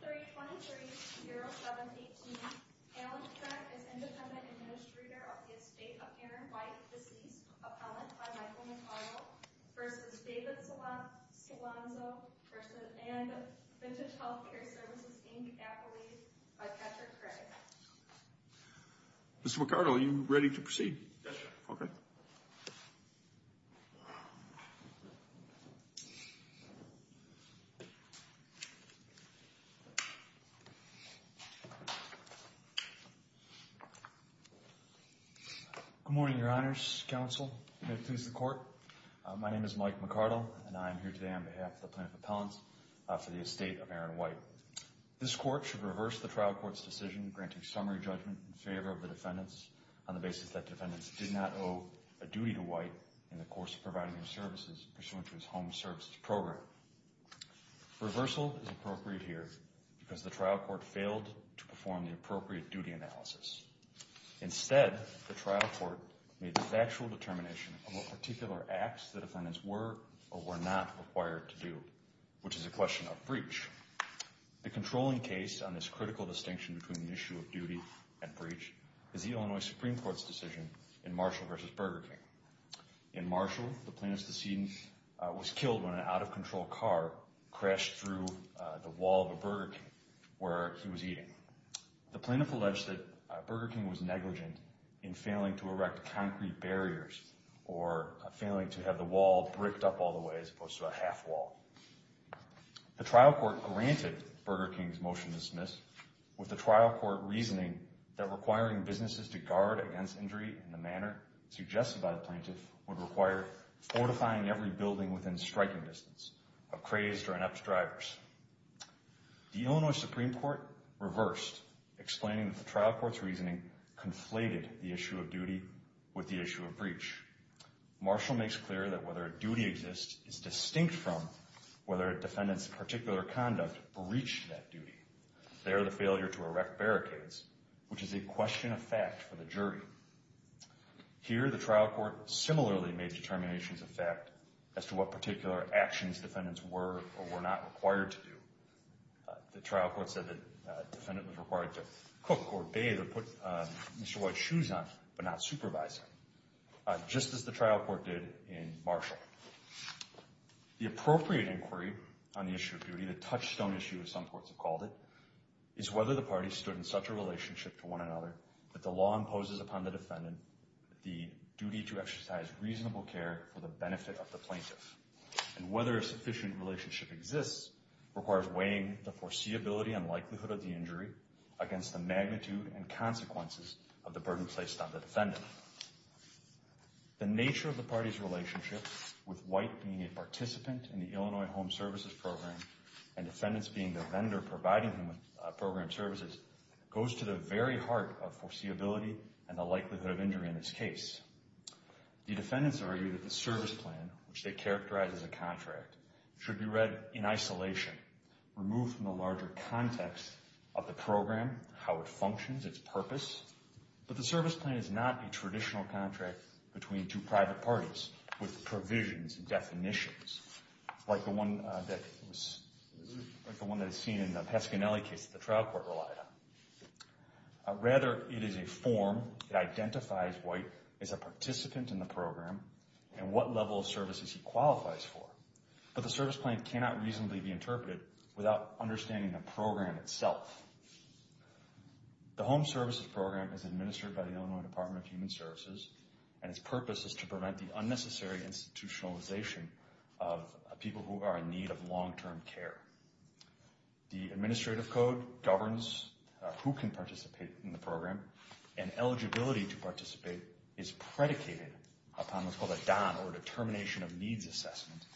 v. David Solorzano, and Vintage Healthcare Services, Inc., Appellee by Patrick Craig. Good morning, your honors, counsel. May it please the court. My name is Mike McCardle, and I am here today on behalf of the Plaintiff Appellants for the estate of Aaron White. This court should reverse the trial court's decision granting summary judgment in favor of the defendants on the basis that defendants did not owe a duty to White in the course of providing him services pursuant to his home services program. Reversal is appropriate here because the trial court failed to perform the appropriate duty analysis. Instead, the trial court made the factual determination of what particular acts the defendants were or were not required to do, which is a question of breach. The controlling case on this critical distinction between the issue of duty and breach is the Illinois Supreme Court's decision in Marshall v. Burger King. In Marshall, the plaintiff's decedent was killed when an out-of-control car crashed through the wall of a Burger King where he was eating. The plaintiff alleged that Burger King was negligent in failing to erect concrete barriers or failing to have the wall bricked up all the way as opposed to a half wall. The trial court granted Burger King's motion to dismiss with the trial court reasoning that requiring businesses to guard against injury in the manner suggested by the plaintiff would require fortifying every building within striking distance of crazed or inept drivers. The Illinois Supreme Court reversed, explaining that the trial court's reasoning conflated the issue of duty with the issue of breach. Marshall makes clear that whether a duty exists is distinct from whether a defendant's particular conduct breached that duty. There, the failure to erect barricades, which is a question of fact for the jury. Here, the trial court similarly made determinations of fact as to what particular actions defendants were or were not required to do. The trial court said that a defendant was required to cook or bathe or put Mr. White's shoes on, but not supervise him, just as the trial court did in Marshall. The appropriate inquiry on the issue of duty, the touchstone issue as some courts have called it, is whether the parties stood in such a relationship to one another that the law imposes upon the defendant the duty to exercise reasonable care for the benefit of the plaintiff. And whether a sufficient relationship exists requires weighing the foreseeability and likelihood of the injury against the magnitude and consequences of the burden placed on the defendant. The nature of the party's relationship with White being a participant in the Illinois Home Services Program and defendants being the vendor providing him with program services goes to the very heart of foreseeability and the likelihood of injury in this case. The defendants argue that the service plan, which they characterize as a contract, should be read in isolation, removed from the larger context of the program, how it functions, its purpose. But the service plan is not a traditional contract between two private parties with provisions and definitions, like the one that is seen in the Pescinelli case that the trial court relied on. Rather, it is a form that identifies White as a participant in the program and what level of services he qualifies for. But the service plan cannot reasonably be interpreted without understanding the program itself. The Home Services Program is administered by the Illinois Department of Human Services and its purpose is to prevent the unnecessary institutionalization of people who are in need of long-term care. The administrative code governs who can participate in the program and eligibility to participate is predicated upon what's called a DON, or a determination of needs assessment,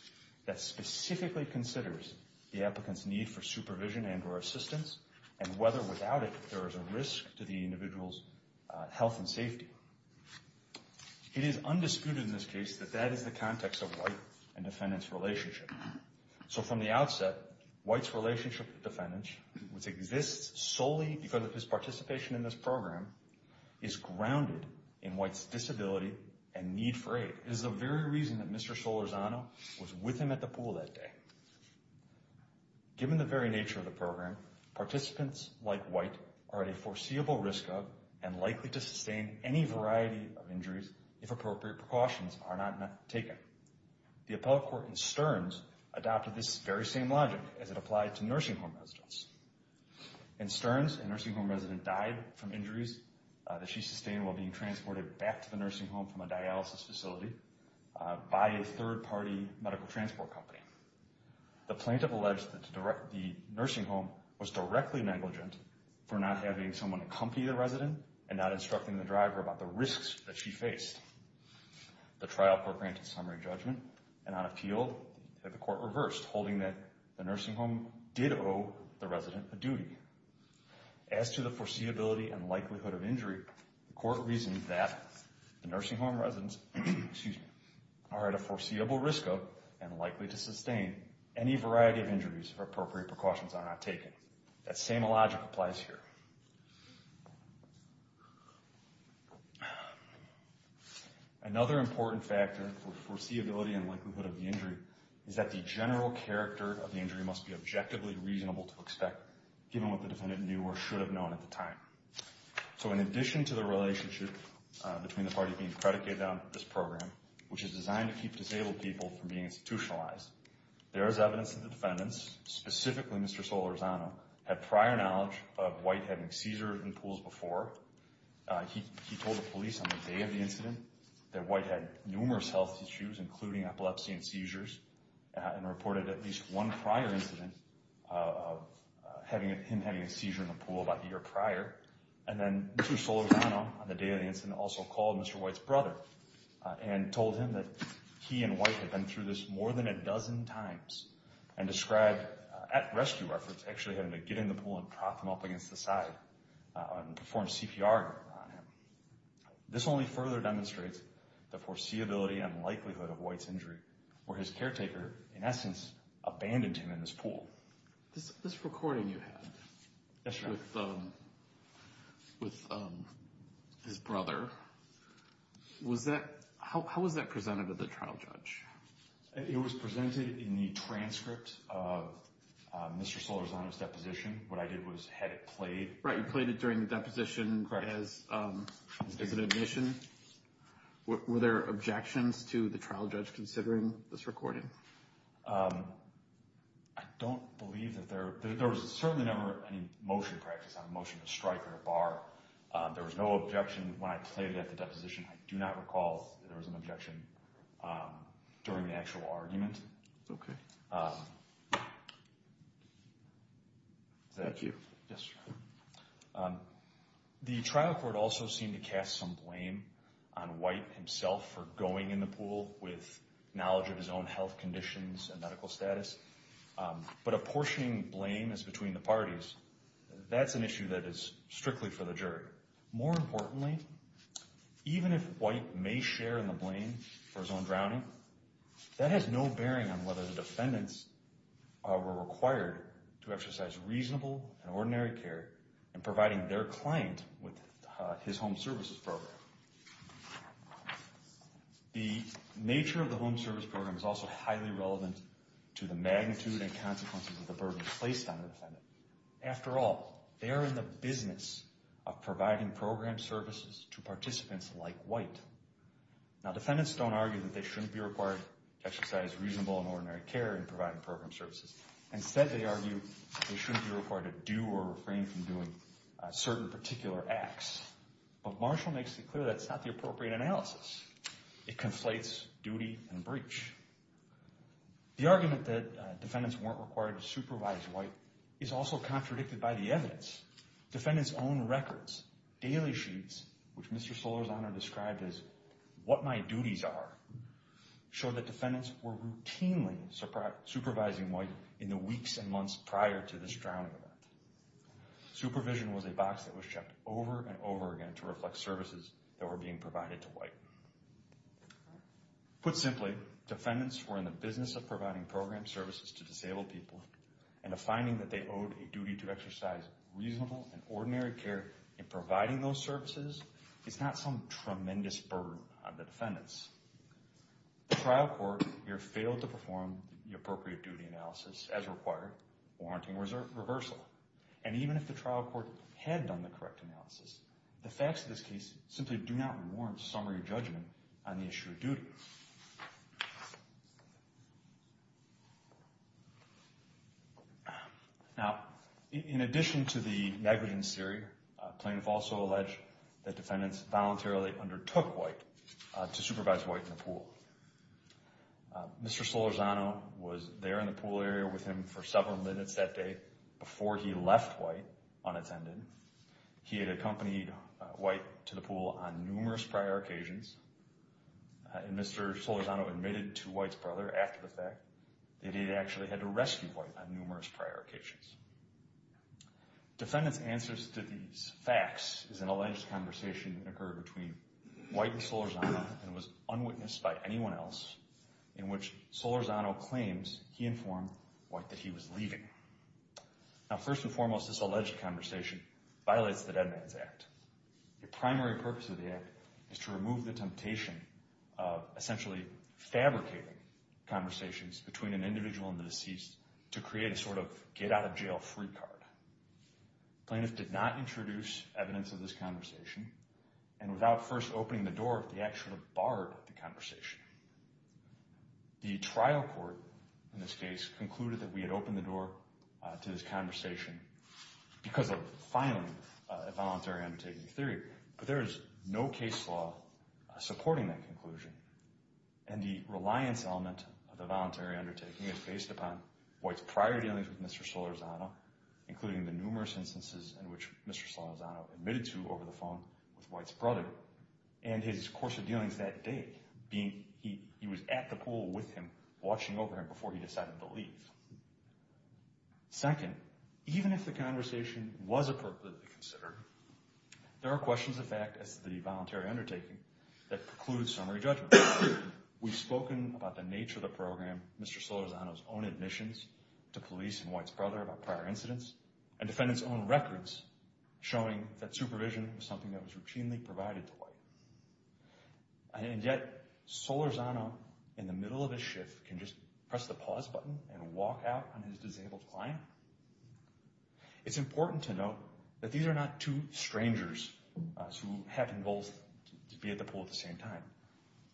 that specifically considers the applicant's need for supervision and or assistance and whether without it there is a risk to the individual's health and safety. It is undisputed in this case that that is the context of White and defendant's relationship. So from the outset, White's relationship with defendants, which exists solely because of his participation in this program, is grounded in White's disability and need for aid. It is the very reason that Mr. Solorzano was with him at the pool that day. Given the very nature of the program, participants like White are at a foreseeable risk of and likely to sustain any variety of injuries if appropriate precautions are not taken. The appellate court in Stearns adopted this very same logic as it applied to nursing home residents. In Stearns, a nursing home resident died from injuries that she sustained while being transported back to the nursing home from a dialysis facility by a third-party medical transport company. The plaintiff alleged that the nursing home was directly negligent for not having someone accompany the resident and not instructing the driver about the risks that she faced. The trial court granted summary judgment, and on appeal, the court reversed, holding that the nursing home did owe the resident a duty. As to the foreseeability and likelihood of injury, the court reasoned that the nursing home residents are at a foreseeable risk of and likely to sustain any variety of injuries if appropriate precautions are not taken. That same logic applies here. Another important factor for foreseeability and likelihood of the injury is that the general character of the injury must be objectively reasonable to expect, given what the defendant knew or should have known at the time. So in addition to the relationship between the parties being predicated on this program, which is designed to keep disabled people from being institutionalized, there is evidence that the defendants, specifically Mr. Solorzano, had prior knowledge of White having seizures in pools before. He told the police on the day of the incident that White had numerous health issues, including epilepsy and seizures, and reported at least one prior incident of him having a seizure in a pool about the year prior. And then Mr. Solorzano, on the day of the incident, also called Mr. White's brother and told him that he and White had been through this more than a dozen times and described, at rescue reference, actually having to get in the pool and prop him up against the side and perform CPR on him. This only further demonstrates the foreseeability and likelihood of White's injury, where his caretaker, in essence, abandoned him in this pool. This recording you had with his brother, how was that presented at the trial, Judge? It was presented in the transcript of Mr. Solorzano's deposition. What I did was had it played. Right, you played it during the deposition as an admission. Were there objections to the trial judge considering this recording? I don't believe that there was certainly never any motion practice on a motion to strike or a bar. There was no objection when I played it at the deposition. I do not recall that there was an objection during the actual argument. Okay. Thank you. Yes, sir. The trial court also seemed to cast some blame on White himself for going in the pool with knowledge of his own health conditions and medical status, but apportioning blame is between the parties. That's an issue that is strictly for the jury. More importantly, even if White may share in the blame for his own drowning, that has no bearing on whether the defendants were required to exercise reasonable and ordinary care in providing their client with his home services program. The nature of the home service program is also highly relevant to the magnitude and consequences of the burden placed on the defendant. After all, they are in the business of providing program services to participants like White. Now, defendants don't argue that they shouldn't be required to exercise reasonable and ordinary care in providing program services. Instead, they argue they shouldn't be required to do or refrain from doing certain particular acts. But Marshall makes it clear that's not the appropriate analysis. It conflates duty and breach. The argument that defendants weren't required to supervise White is also contradicted by the evidence. Defendants' own records, daily sheets, which Mr. Solorzano described as what my duties are, show that defendants were routinely supervising White in the weeks and months prior to this drowning event. Supervision was a box that was checked over and over again to reflect services that were being provided to White. Put simply, defendants were in the business of providing program services to disabled people, and the finding that they owed a duty to exercise reasonable and ordinary care in providing those services is not some tremendous burden on the defendants. The trial court here failed to perform the appropriate duty analysis as required, warranting reversal. And even if the trial court had done the correct analysis, the facts of this case simply do not warrant summary judgment on the issue of duty. Now, in addition to the negligence theory, plaintiffs also allege that defendants voluntarily undertook White to supervise White in the pool. Mr. Solorzano was there in the pool area with him for several minutes that day before he left White unattended. He had accompanied White to the pool on numerous prior occasions, and Mr. Solorzano admitted to White's brother after the fact that he had actually had to rescue White on numerous prior occasions. Defendants' answers to these facts is an alleged conversation that occurred between White and Solorzano and was unwitnessed by anyone else, in which Solorzano claims he informed White that he was leaving. Now, first and foremost, this alleged conversation violates the Dead Man's Act. The primary purpose of the act is to remove the temptation of essentially fabricating conversations between an individual and the deceased to create a sort of get-out-of-jail-free card. Plaintiffs did not introduce evidence of this conversation, and without first opening the door, the act should have barred the conversation. The trial court in this case concluded that we had opened the door to this conversation because of, finally, a voluntary undertaking theory. But there is no case law supporting that conclusion, and the reliance element of the voluntary undertaking is based upon White's prior dealings with Mr. Solorzano, including the numerous instances in which Mr. Solorzano admitted to over the phone with White's brother, and his course of dealings that day, being he was at the pool with him, watching over him before he decided to leave. Second, even if the conversation was appropriately considered, there are questions of fact as to the voluntary undertaking that preclude summary judgment. We've spoken about the nature of the program, Mr. Solorzano's own admissions to police and White's brother about prior incidents, and defendants' own records showing that supervision was something that was routinely provided to White. And yet Solorzano, in the middle of his shift, can just press the pause button and walk out on his disabled client? It's important to note that these are not two strangers who have been both at the pool at the same time.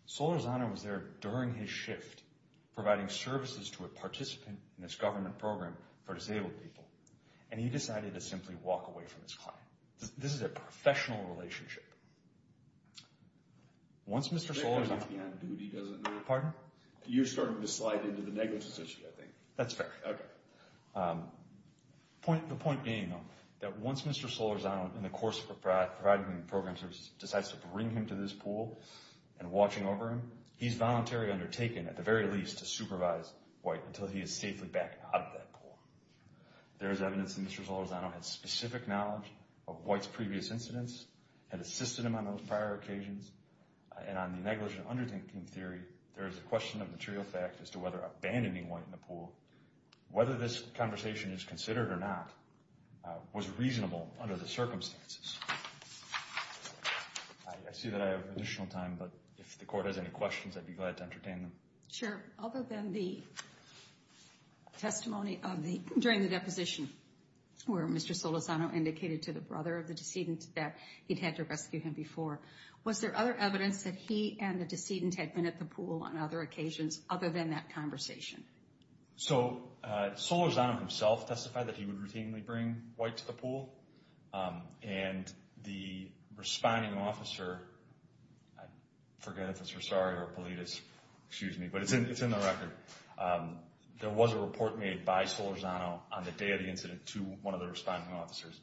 Solorzano was there during his shift, providing services to a participant in this government program for disabled people. And he decided to simply walk away from his client. This is a professional relationship. Once Mr. Solorzano— I think he's on duty, doesn't he? Pardon? You're starting to slide into the negligence issue, I think. That's fair. The point being, though, that once Mr. Solorzano, in the course of providing him program services, decides to bring him to this pool and watching over him, he's voluntarily undertaken, at the very least, to supervise White until he is safely back out of that pool. There is evidence that Mr. Solorzano had specific knowledge of White's previous incidents, had assisted him on those prior occasions, and on the negligent under-thinking theory, there is a question of material fact as to whether abandoning White in the pool, whether this conversation is considered or not, was reasonable under the circumstances. I see that I have additional time, but if the Court has any questions, I'd be glad to entertain them. Sure. Other than the testimony during the deposition, where Mr. Solorzano indicated to the brother of the decedent that he'd had to rescue him before, was there other evidence that he and the decedent had been at the pool on other occasions, other than that conversation? So, Solorzano himself testified that he would routinely bring White to the pool, and the responding officer, I forget if it's Rosario or Paulides, excuse me, but it's in the record, there was a report made by Solorzano on the day of the incident to one of the responding officers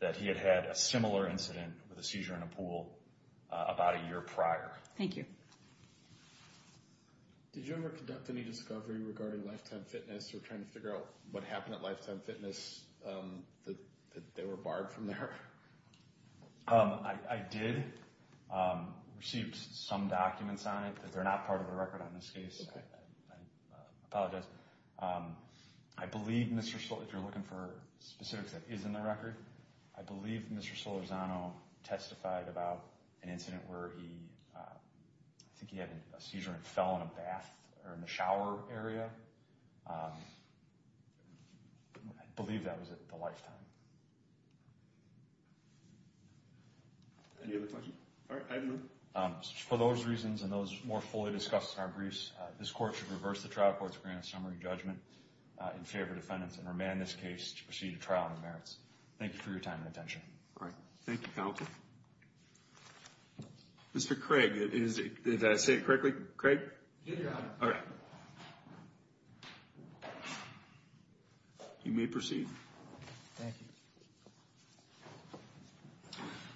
that he had had a similar incident with a seizure in a pool about a year prior. Thank you. Did you ever conduct any discovery regarding Lifetime Fitness, or trying to figure out what happened at Lifetime Fitness, that they were barred from there? I did receive some documents on it, but they're not part of the record on this case. I apologize. I believe Mr. Solorzano, if you're looking for specifics that is in the record, I believe Mr. Solorzano testified about an incident where he, I think he had a seizure and it fell on a bath or in the shower area. I believe that was at the Lifetime. Any other questions? All right, I have none. For those reasons and those more fully discussed in our briefs, this court should reverse the trial court's grand summary judgment in favor of defendants and remand this case to proceed to trial on the merits. Thank you for your time and attention. Great. Thank you, counsel. Mr. Craig, did I say it correctly? Craig? Yeah. All right. You may proceed. Thank you.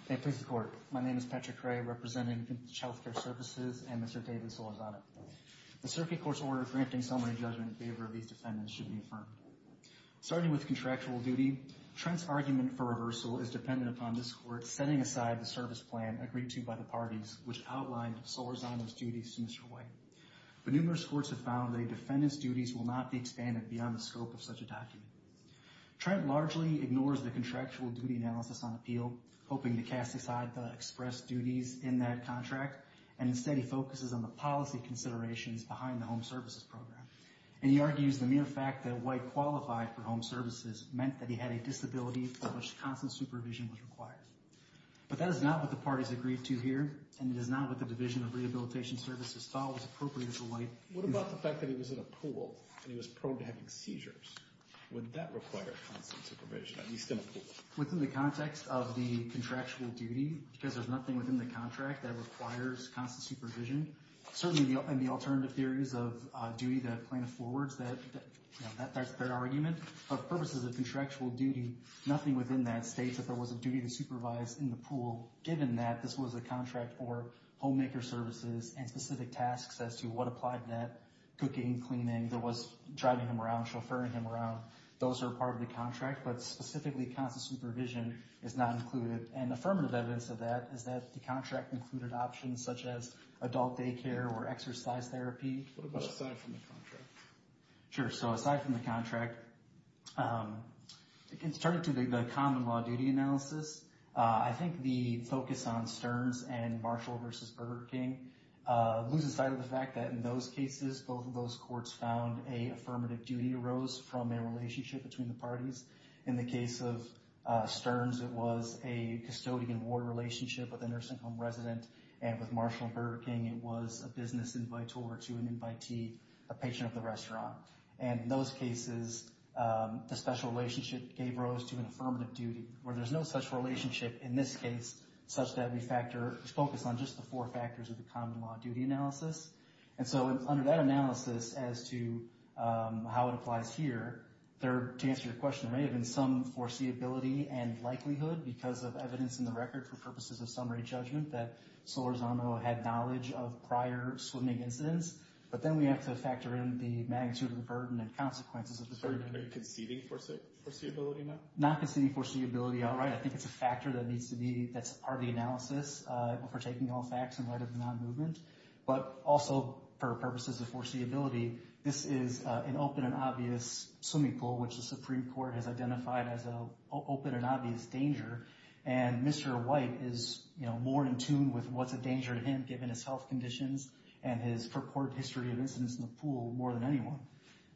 Thank you, Mr. Court. My name is Patrick Ray, representing Infant Child Care Services and Mr. David Solorzano. The circuit court's order granting summary judgment in favor of these defendants should be affirmed. Starting with contractual duty, Trent's argument for reversal is dependent upon this court setting aside the service plan agreed to by the parties, which outlined Solorzano's duties to Mr. White. But numerous courts have found that a defendant's duties will not be expanded beyond the scope of such a document. Trent largely ignores the contractual duty analysis on appeal, hoping to cast aside the express duties in that contract, and instead he focuses on the policy considerations behind the home services program. And he argues the mere fact that White qualified for home services meant that he had a disability for which constant supervision was required. But that is not what the parties agreed to here, and it is not what the Division of Rehabilitation Services thought was appropriate for White. What about the fact that he was in a pool and he was prone to having seizures? Would that require constant supervision, at least in a pool? Within the context of the contractual duty, because there's nothing within the contract that requires constant supervision, certainly in the alternative theories of duty that plaintiff forwards, that's their argument, for purposes of contractual duty, nothing within that states that there was a duty to supervise in the pool, given that this was a contract for homemaker services and specific tasks as to what applied net, cooking, cleaning, there was driving him around, chauffeuring him around. Those are part of the contract, but specifically constant supervision is not included. And affirmative evidence of that is that the contract included options such as adult daycare or exercise therapy. What about aside from the contract? Sure, so aside from the contract, it can start to be the common law duty analysis. I think the focus on Stearns and Marshall v. Burger King loses sight of the fact that in those cases, both of those courts found a affirmative duty arose from a relationship between the parties. In the case of Stearns, it was a custodian-war relationship with a nursing home resident, and with Marshall and Burger King, it was a business invitor to an invitee, a patron of the restaurant. And in those cases, the special relationship gave rise to an affirmative duty, where there's no such relationship in this case, such that we focus on just the four factors of the common law duty analysis. And so under that analysis as to how it applies here, to answer your question, there may have been some foreseeability and likelihood because of evidence in the record for purposes of summary judgment that Solorzano had knowledge of prior swimming incidents. But then we have to factor in the magnitude of the burden and consequences of the burden. Are you conceding foreseeability now? Not conceding foreseeability outright. I think it's a factor that needs to be part of the analysis if we're taking all facts in light of the non-movement. But also for purposes of foreseeability, this is an open and obvious swimming pool, which the Supreme Court has identified as an open and obvious danger. And Mr. White is more in tune with what's a danger to him, given his health conditions and his purported history of incidents in the pool more than anyone.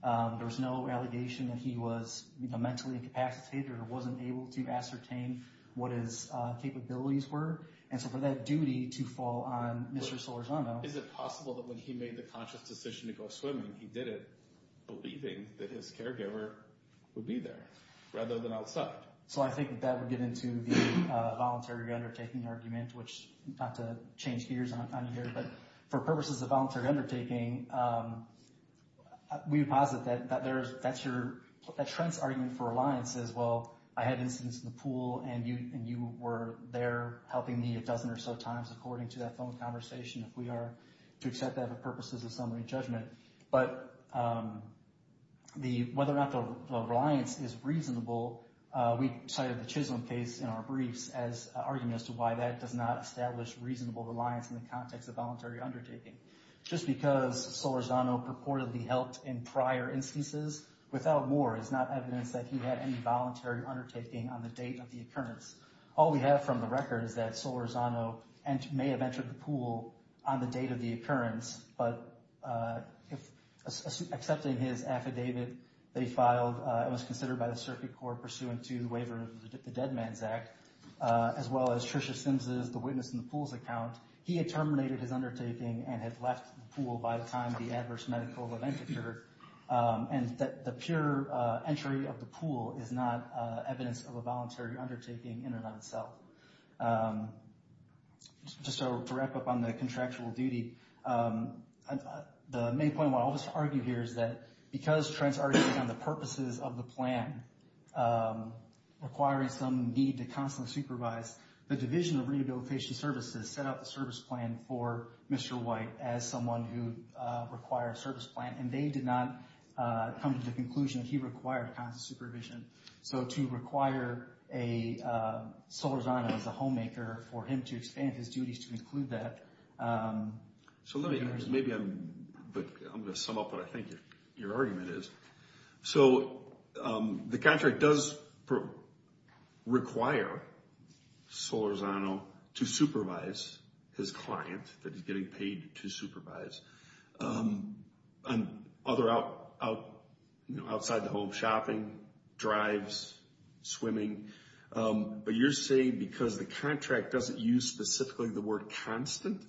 There was no allegation that he was mentally incapacitated or wasn't able to ascertain what his capabilities were. And so for that duty to fall on Mr. Solorzano... Is it possible that when he made the conscious decision to go swimming, he did it believing that his caregiver would be there rather than outside? So I think that would get into the voluntary undertaking argument, which not to change gears on you here, but for purposes of voluntary undertaking, we would posit that Trent's argument for reliance is, well, I had incidents in the pool and you were there helping me a dozen or so times, according to that phone conversation, if we are to accept that for purposes of summary judgment. But whether or not the reliance is reasonable, we cited the Chisholm case in our briefs as an argument as to why that does not establish reasonable reliance in the context of voluntary undertaking. Just because Solorzano purportedly helped in prior instances without war is not evidence that he had any voluntary undertaking on the date of the occurrence. All we have from the record is that Solorzano may have entered the pool on the date of the occurrence, but accepting his affidavit that he filed, it was considered by the circuit court pursuant to the waiver of the Dead Man's Act, as well as Tricia Simms' The Witness in the Pools account, he had terminated his undertaking and had left the pool by the time the adverse medical event occurred. And the pure entry of the pool is not evidence of a voluntary undertaking in and of itself. Just to wrap up on the contractual duty, the main point I'll just argue here is that because Trent's arguing on the purposes of the plan, requiring some need to constantly supervise, the Division of Rehabilitation Services set up a service plan for Mr. White as someone who required a service plan, and they did not come to the conclusion that he required constant supervision. So to require Solorzano as a homemaker for him to expand his duties to include that. So let me, maybe I'm going to sum up what I think your argument is. So the contract does require Solorzano to supervise his client that he's getting paid to supervise. Other outside the home, shopping, drives, swimming. But you're saying because the contract doesn't use specifically the word constant,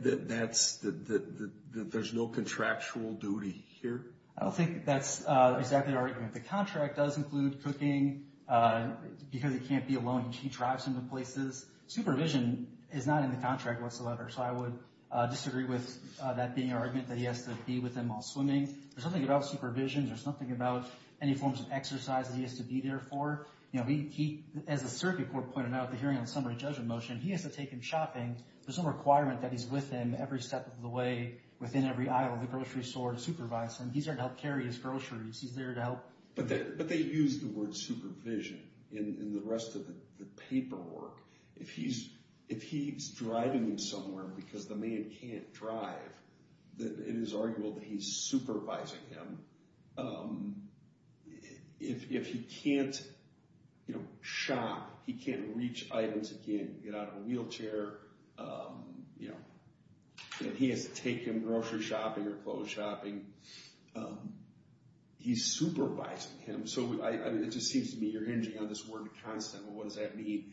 that there's no contractual duty here? I don't think that's exactly the argument. The contract does include cooking because he can't be alone. He drives him to places. Supervision is not in the contract whatsoever. So I would disagree with that being an argument that he has to be with them while swimming. There's nothing about supervision. There's nothing about any forms of exercise that he has to be there for. As the circuit court pointed out at the hearing on the summary judgment motion, he has to take him shopping. There's no requirement that he's with them every step of the way, within every aisle of the grocery store to supervise them. He's there to help carry his groceries. He's there to help. But they use the word supervision in the rest of the paperwork. If he's driving you somewhere because the man can't drive, it is arguable that he's supervising him. If he can't shop, he can't reach items, he can't get out of a wheelchair, and he has to take him grocery shopping or clothes shopping, he's supervising him. So it just seems to me you're hinging on this word constant. What does that mean?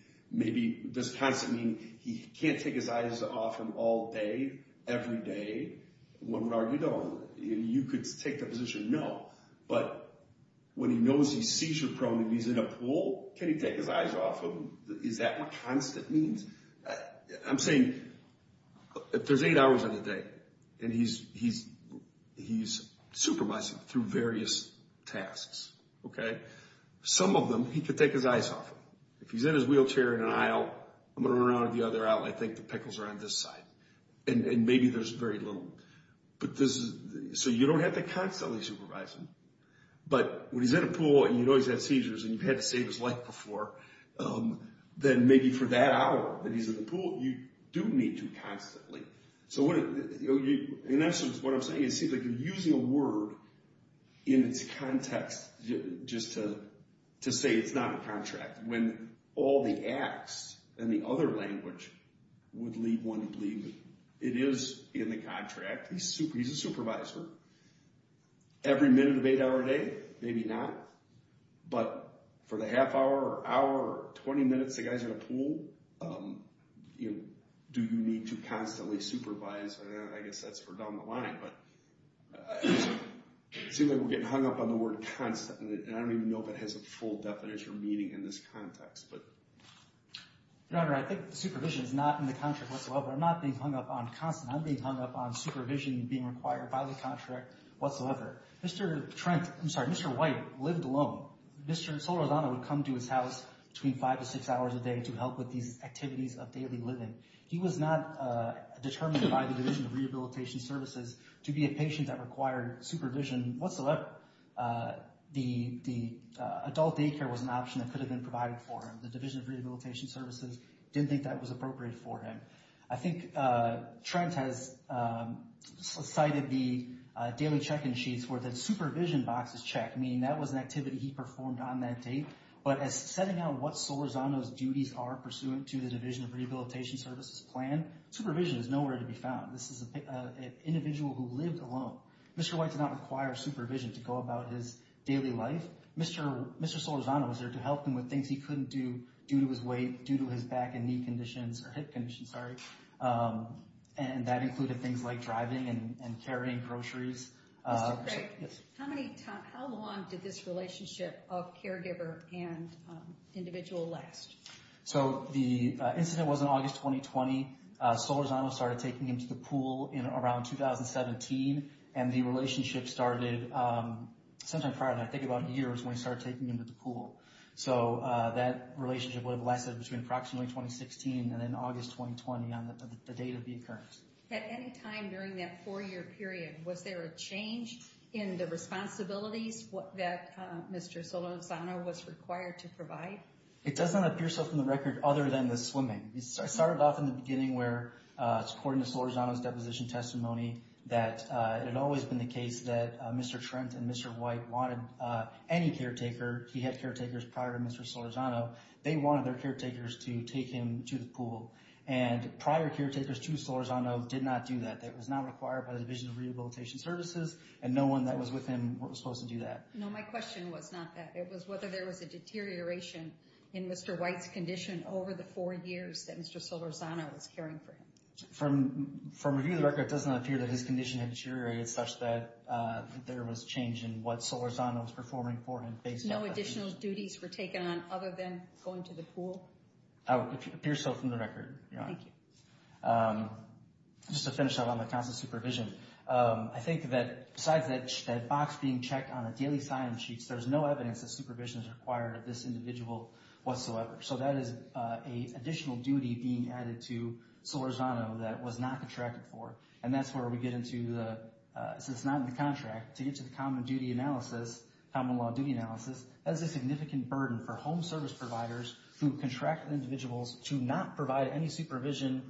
Does constant mean he can't take his eyes off him all day, every day? One would argue, no. You could take that position, no. But when he knows he's seizure prone and he's in a pool, can he take his eyes off him? Is that what constant means? I'm saying if there's eight hours in a day and he's supervising through various tasks, some of them he could take his eyes off him. If he's in his wheelchair in an aisle, I'm going to run around to the other aisle and I think the pickles are on this side, and maybe there's very little. So you don't have to constantly supervise him. But when he's in a pool and you know he's had seizures and you've had to save his life before, then maybe for that hour that he's in the pool, you do need to constantly. In essence, what I'm saying is it seems like you're using a word in its context just to say it's not a contract. When all the acts in the other language would lead one to believe it is in the contract. He's a supervisor. Every minute of eight hours a day, maybe not. But for the half hour or hour or 20 minutes the guy's in a pool, do you need to constantly supervise? I guess that's for down the line. But it seems like we're getting hung up on the word constant, and I don't even know if it has a full definition or meaning in this context. Your Honor, I think supervision is not in the contract whatsoever. I'm not being hung up on constant. I'm being hung up on supervision being required by the contract whatsoever. Mr. White lived alone. Mr. Solorzano would come to his house between five to six hours a day to help with these activities of daily living. He was not determined by the Division of Rehabilitation Services to be a patient that required supervision whatsoever. The adult daycare was an option that could have been provided for him. The Division of Rehabilitation Services didn't think that was appropriate for him. I think Trent has cited the daily check-in sheets where the supervision box is checked, meaning that was an activity he performed on that date. But as to setting out what Solorzano's duties are pursuant to the Division of Rehabilitation Services plan, supervision is nowhere to be found. This is an individual who lived alone. Mr. White did not require supervision to go about his daily life. Mr. Solorzano was there to help him with things he couldn't do due to his weight, due to his back and knee conditions, or hip conditions, sorry. And that included things like driving and carrying groceries. Mr. Craig, how long did this relationship of caregiver and individual last? So the incident was in August 2020. Solorzano started taking him to the pool around 2017. And the relationship started sometime prior, I think about a year, is when he started taking him to the pool. So that relationship would have lasted between approximately 2016 and then August 2020 on the date of the occurrence. At any time during that four-year period, was there a change in the responsibilities that Mr. Solorzano was required to provide? It doesn't appear so from the record other than the swimming. It started off in the beginning where, according to Solorzano's deposition testimony, that it had always been the case that Mr. Trent and Mr. White wanted any caretaker. He had caretakers prior to Mr. Solorzano. They wanted their caretakers to take him to the pool. And prior caretakers to Solorzano did not do that. That was not required by the Division of Rehabilitation Services, and no one that was with him was supposed to do that. No, my question was not that. It was whether there was a deterioration in Mr. White's condition over the four years that Mr. Solorzano was caring for him. From review of the record, it does not appear that his condition had deteriorated such that there was change in what Solorzano was performing for him. No additional duties were taken on other than going to the pool? It appears so from the record, Your Honor. Thank you. Just to finish up on the constant supervision, I think that besides that box being checked on the daily sign-in sheets, there's no evidence that supervision is required of this individual whatsoever. So that is an additional duty being added to Solorzano that was not contracted for, and that's where we get into the—since it's not in the contract, to get to the common duty analysis, common law duty analysis, that is a significant burden for home service providers who contract individuals to not provide any supervision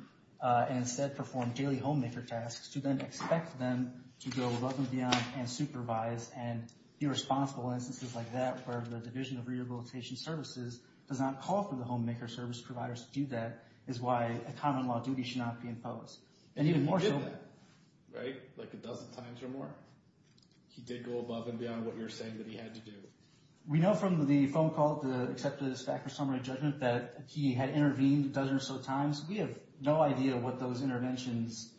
and instead perform daily homemaker tasks, to then expect them to go above and beyond and supervise and be responsible in instances like that where the Division of Rehabilitation Services does not call for the homemaker service providers to do that is why a common law duty should not be imposed. And even more so— And he did that, right, like a dozen times or more. He did go above and beyond what you're saying that he had to do. We know from the phone call, except for his fact or summary judgment, that he had intervened a dozen or so times. We have no idea what those interventions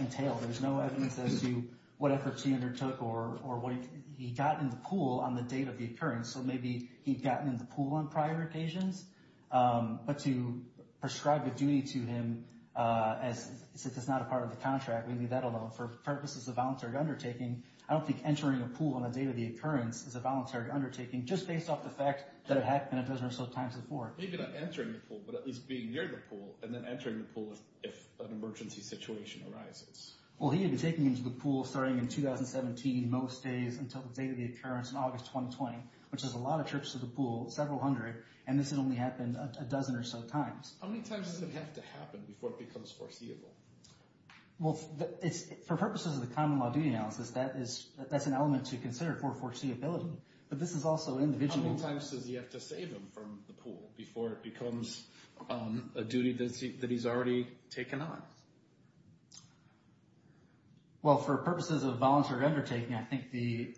entailed. There's no evidence as to what efforts he undertook or what he got in the pool on the date of the occurrence. So maybe he'd gotten in the pool on prior occasions. But to prescribe a duty to him, since it's not a part of the contract, we leave that alone. For purposes of voluntary undertaking, I don't think entering a pool on the date of the occurrence is a voluntary undertaking just based off the fact that it happened a dozen or so times before. Maybe not entering the pool, but at least being near the pool, and then entering the pool if an emergency situation arises. Well, he had been taken into the pool starting in 2017, most days until the date of the occurrence in August 2020, which is a lot of trips to the pool, several hundred, and this had only happened a dozen or so times. How many times does it have to happen before it becomes foreseeable? Well, for purposes of the common law duty analysis, that's an element to consider for foreseeability. But this is also individual. How many times does he have to save him from the pool before it becomes a duty that he's already taken on? Well, for purposes of voluntary undertaking, I think the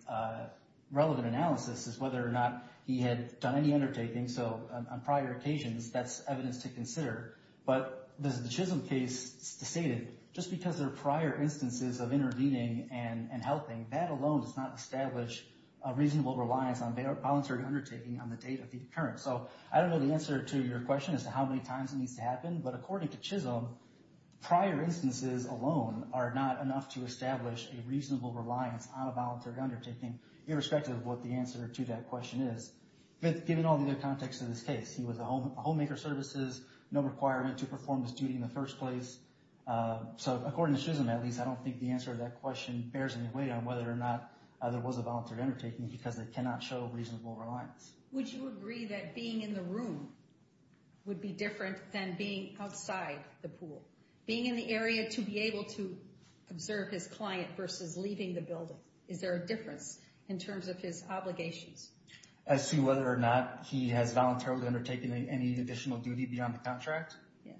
relevant analysis is whether or not he had done any undertaking, so on prior occasions, that's evidence to consider. But the Chisholm case stated, just because there are prior instances of intervening and helping, that alone does not establish a reasonable reliance on voluntary undertaking on the date of the occurrence. So I don't know the answer to your question as to how many times it needs to happen, but according to Chisholm, prior instances alone are not enough to establish a reasonable reliance on a voluntary undertaking, irrespective of what the answer to that question is. Given all the other contexts in this case, he was a homemaker services, no requirement to perform this duty in the first place. So according to Chisholm, at least, I don't think the answer to that question bears any weight on whether or not there was a voluntary undertaking because it cannot show reasonable reliance. Would you agree that being in the room would be different than being outside the pool? Being in the area to be able to observe his client versus leaving the building, is there a difference in terms of his obligations? As to whether or not he has voluntarily undertaken any additional duty beyond the contract? Yes.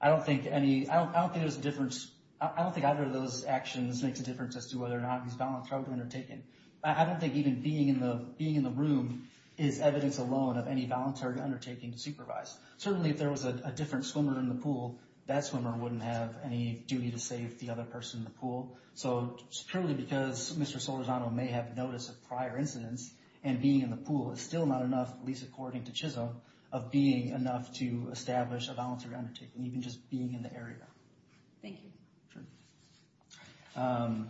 I don't think any, I don't think there's a difference, I don't think either of those actions makes a difference as to whether or not he's voluntarily undertaken. I don't think even being in the room is evidence alone of any voluntary undertaking to supervise. Certainly, if there was a different swimmer in the pool, that swimmer wouldn't have any duty to save the other person in the pool. So purely because Mr. Solorzano may have notice of prior incidents and being in the pool is still not enough, at least according to Chisholm, of being enough to establish a voluntary undertaking, even just being in the area. Thank you. Sure.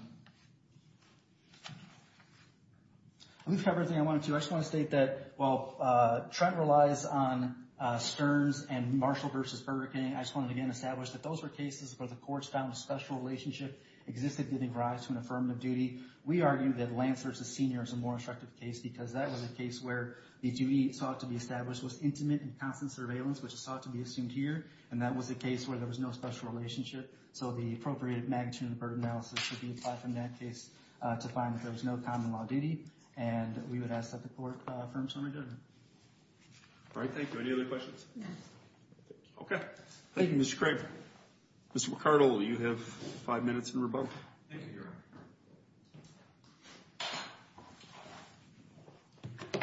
We've covered everything I wanted to. I just want to state that while Trent relies on Stearns and Marshall versus Burger King, I just want to again establish that those were cases where the courts found a special relationship existed giving rise to an affirmative duty. We argue that Lancer versus Senior is a more instructive case because that was a case where the duty sought to be established was intimate and constant surveillance, which is sought to be assumed here, and that was a case where there was no special relationship. So the appropriate magnitude and burden analysis would be applied from that case to find that there was no common law duty, and we would ask that the court affirm some of the judgment. All right, thank you. Any other questions? No. Okay. Thank you, Mr. Craig. Mr. McCardle, you have five minutes and rebuttal. Thank you, Your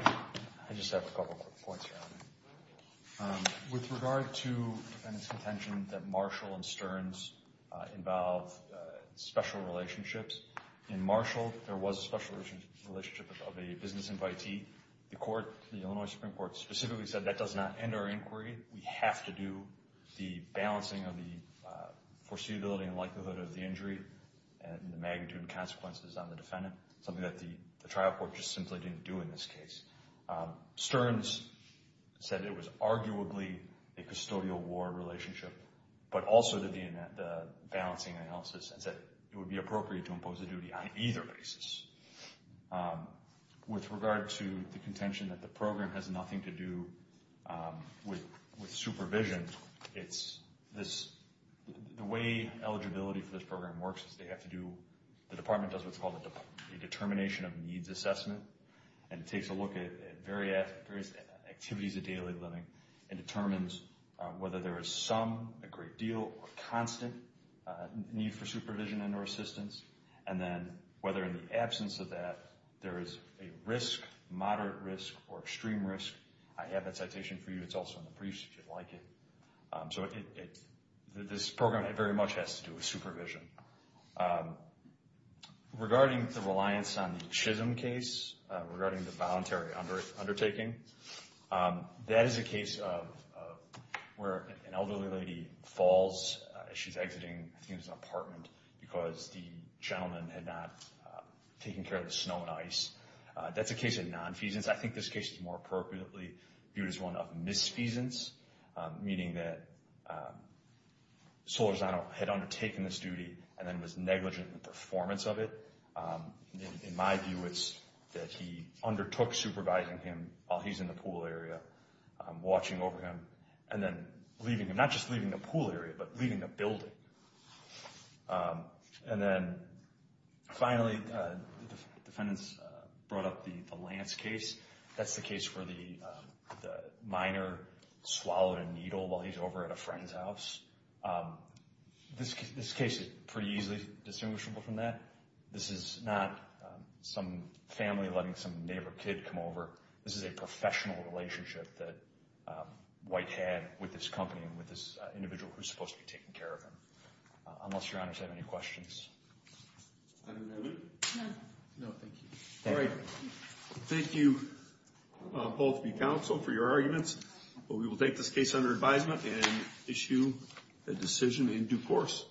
Honor. I just have a couple quick points, Your Honor. With regard to the defendant's contention that Marshall and Stearns involve special relationships, in Marshall there was a special relationship of a business invitee. The court, the Illinois Supreme Court, specifically said that does not end our inquiry. We have to do the balancing of the foreseeability and likelihood of the injury and the magnitude and consequences on the defendant, something that the trial court just simply didn't do in this case. Stearns said it was arguably a custodial war relationship, but also did the balancing analysis and said it would be appropriate to impose a duty on either basis. With regard to the contention that the program has nothing to do with supervision, the way eligibility for this program works is they have to do, the department does what's called a determination of needs assessment, and it takes a look at various activities of daily living and determines whether there is some, a great deal, or constant need for supervision and or assistance, and then whether in the absence of that there is a risk, moderate risk, or extreme risk. I have that citation for you. It's also in the briefs if you'd like it. So this program very much has to do with supervision. Regarding the reliance on the Chisholm case, regarding the voluntary undertaking, that is a case of where an elderly lady falls as she's exiting, I think it was an apartment, because the gentleman had not taken care of the snow and ice. That's a case of nonfeasance. I think this case is more appropriately viewed as one of misfeasance, meaning that Solorzano had undertaken this duty and then was negligent in the performance of it. In my view, it's that he undertook supervising him while he's in the pool area, watching over him, and then leaving him, not just leaving the pool area, but leaving the building. And then finally, the defendants brought up the Lance case. That's the case where the minor swallowed a needle while he's over at a friend's house. This case is pretty easily distinguishable from that. This is not some family letting some neighbor kid come over. This is a professional relationship that White had with this company and with this individual who's supposed to be taking care of him. Unless your honors have any questions. I don't have any. No. No, thank you. All right. Thank you, both of you counsel, for your arguments. We will take this case under advisement and issue a decision in due course.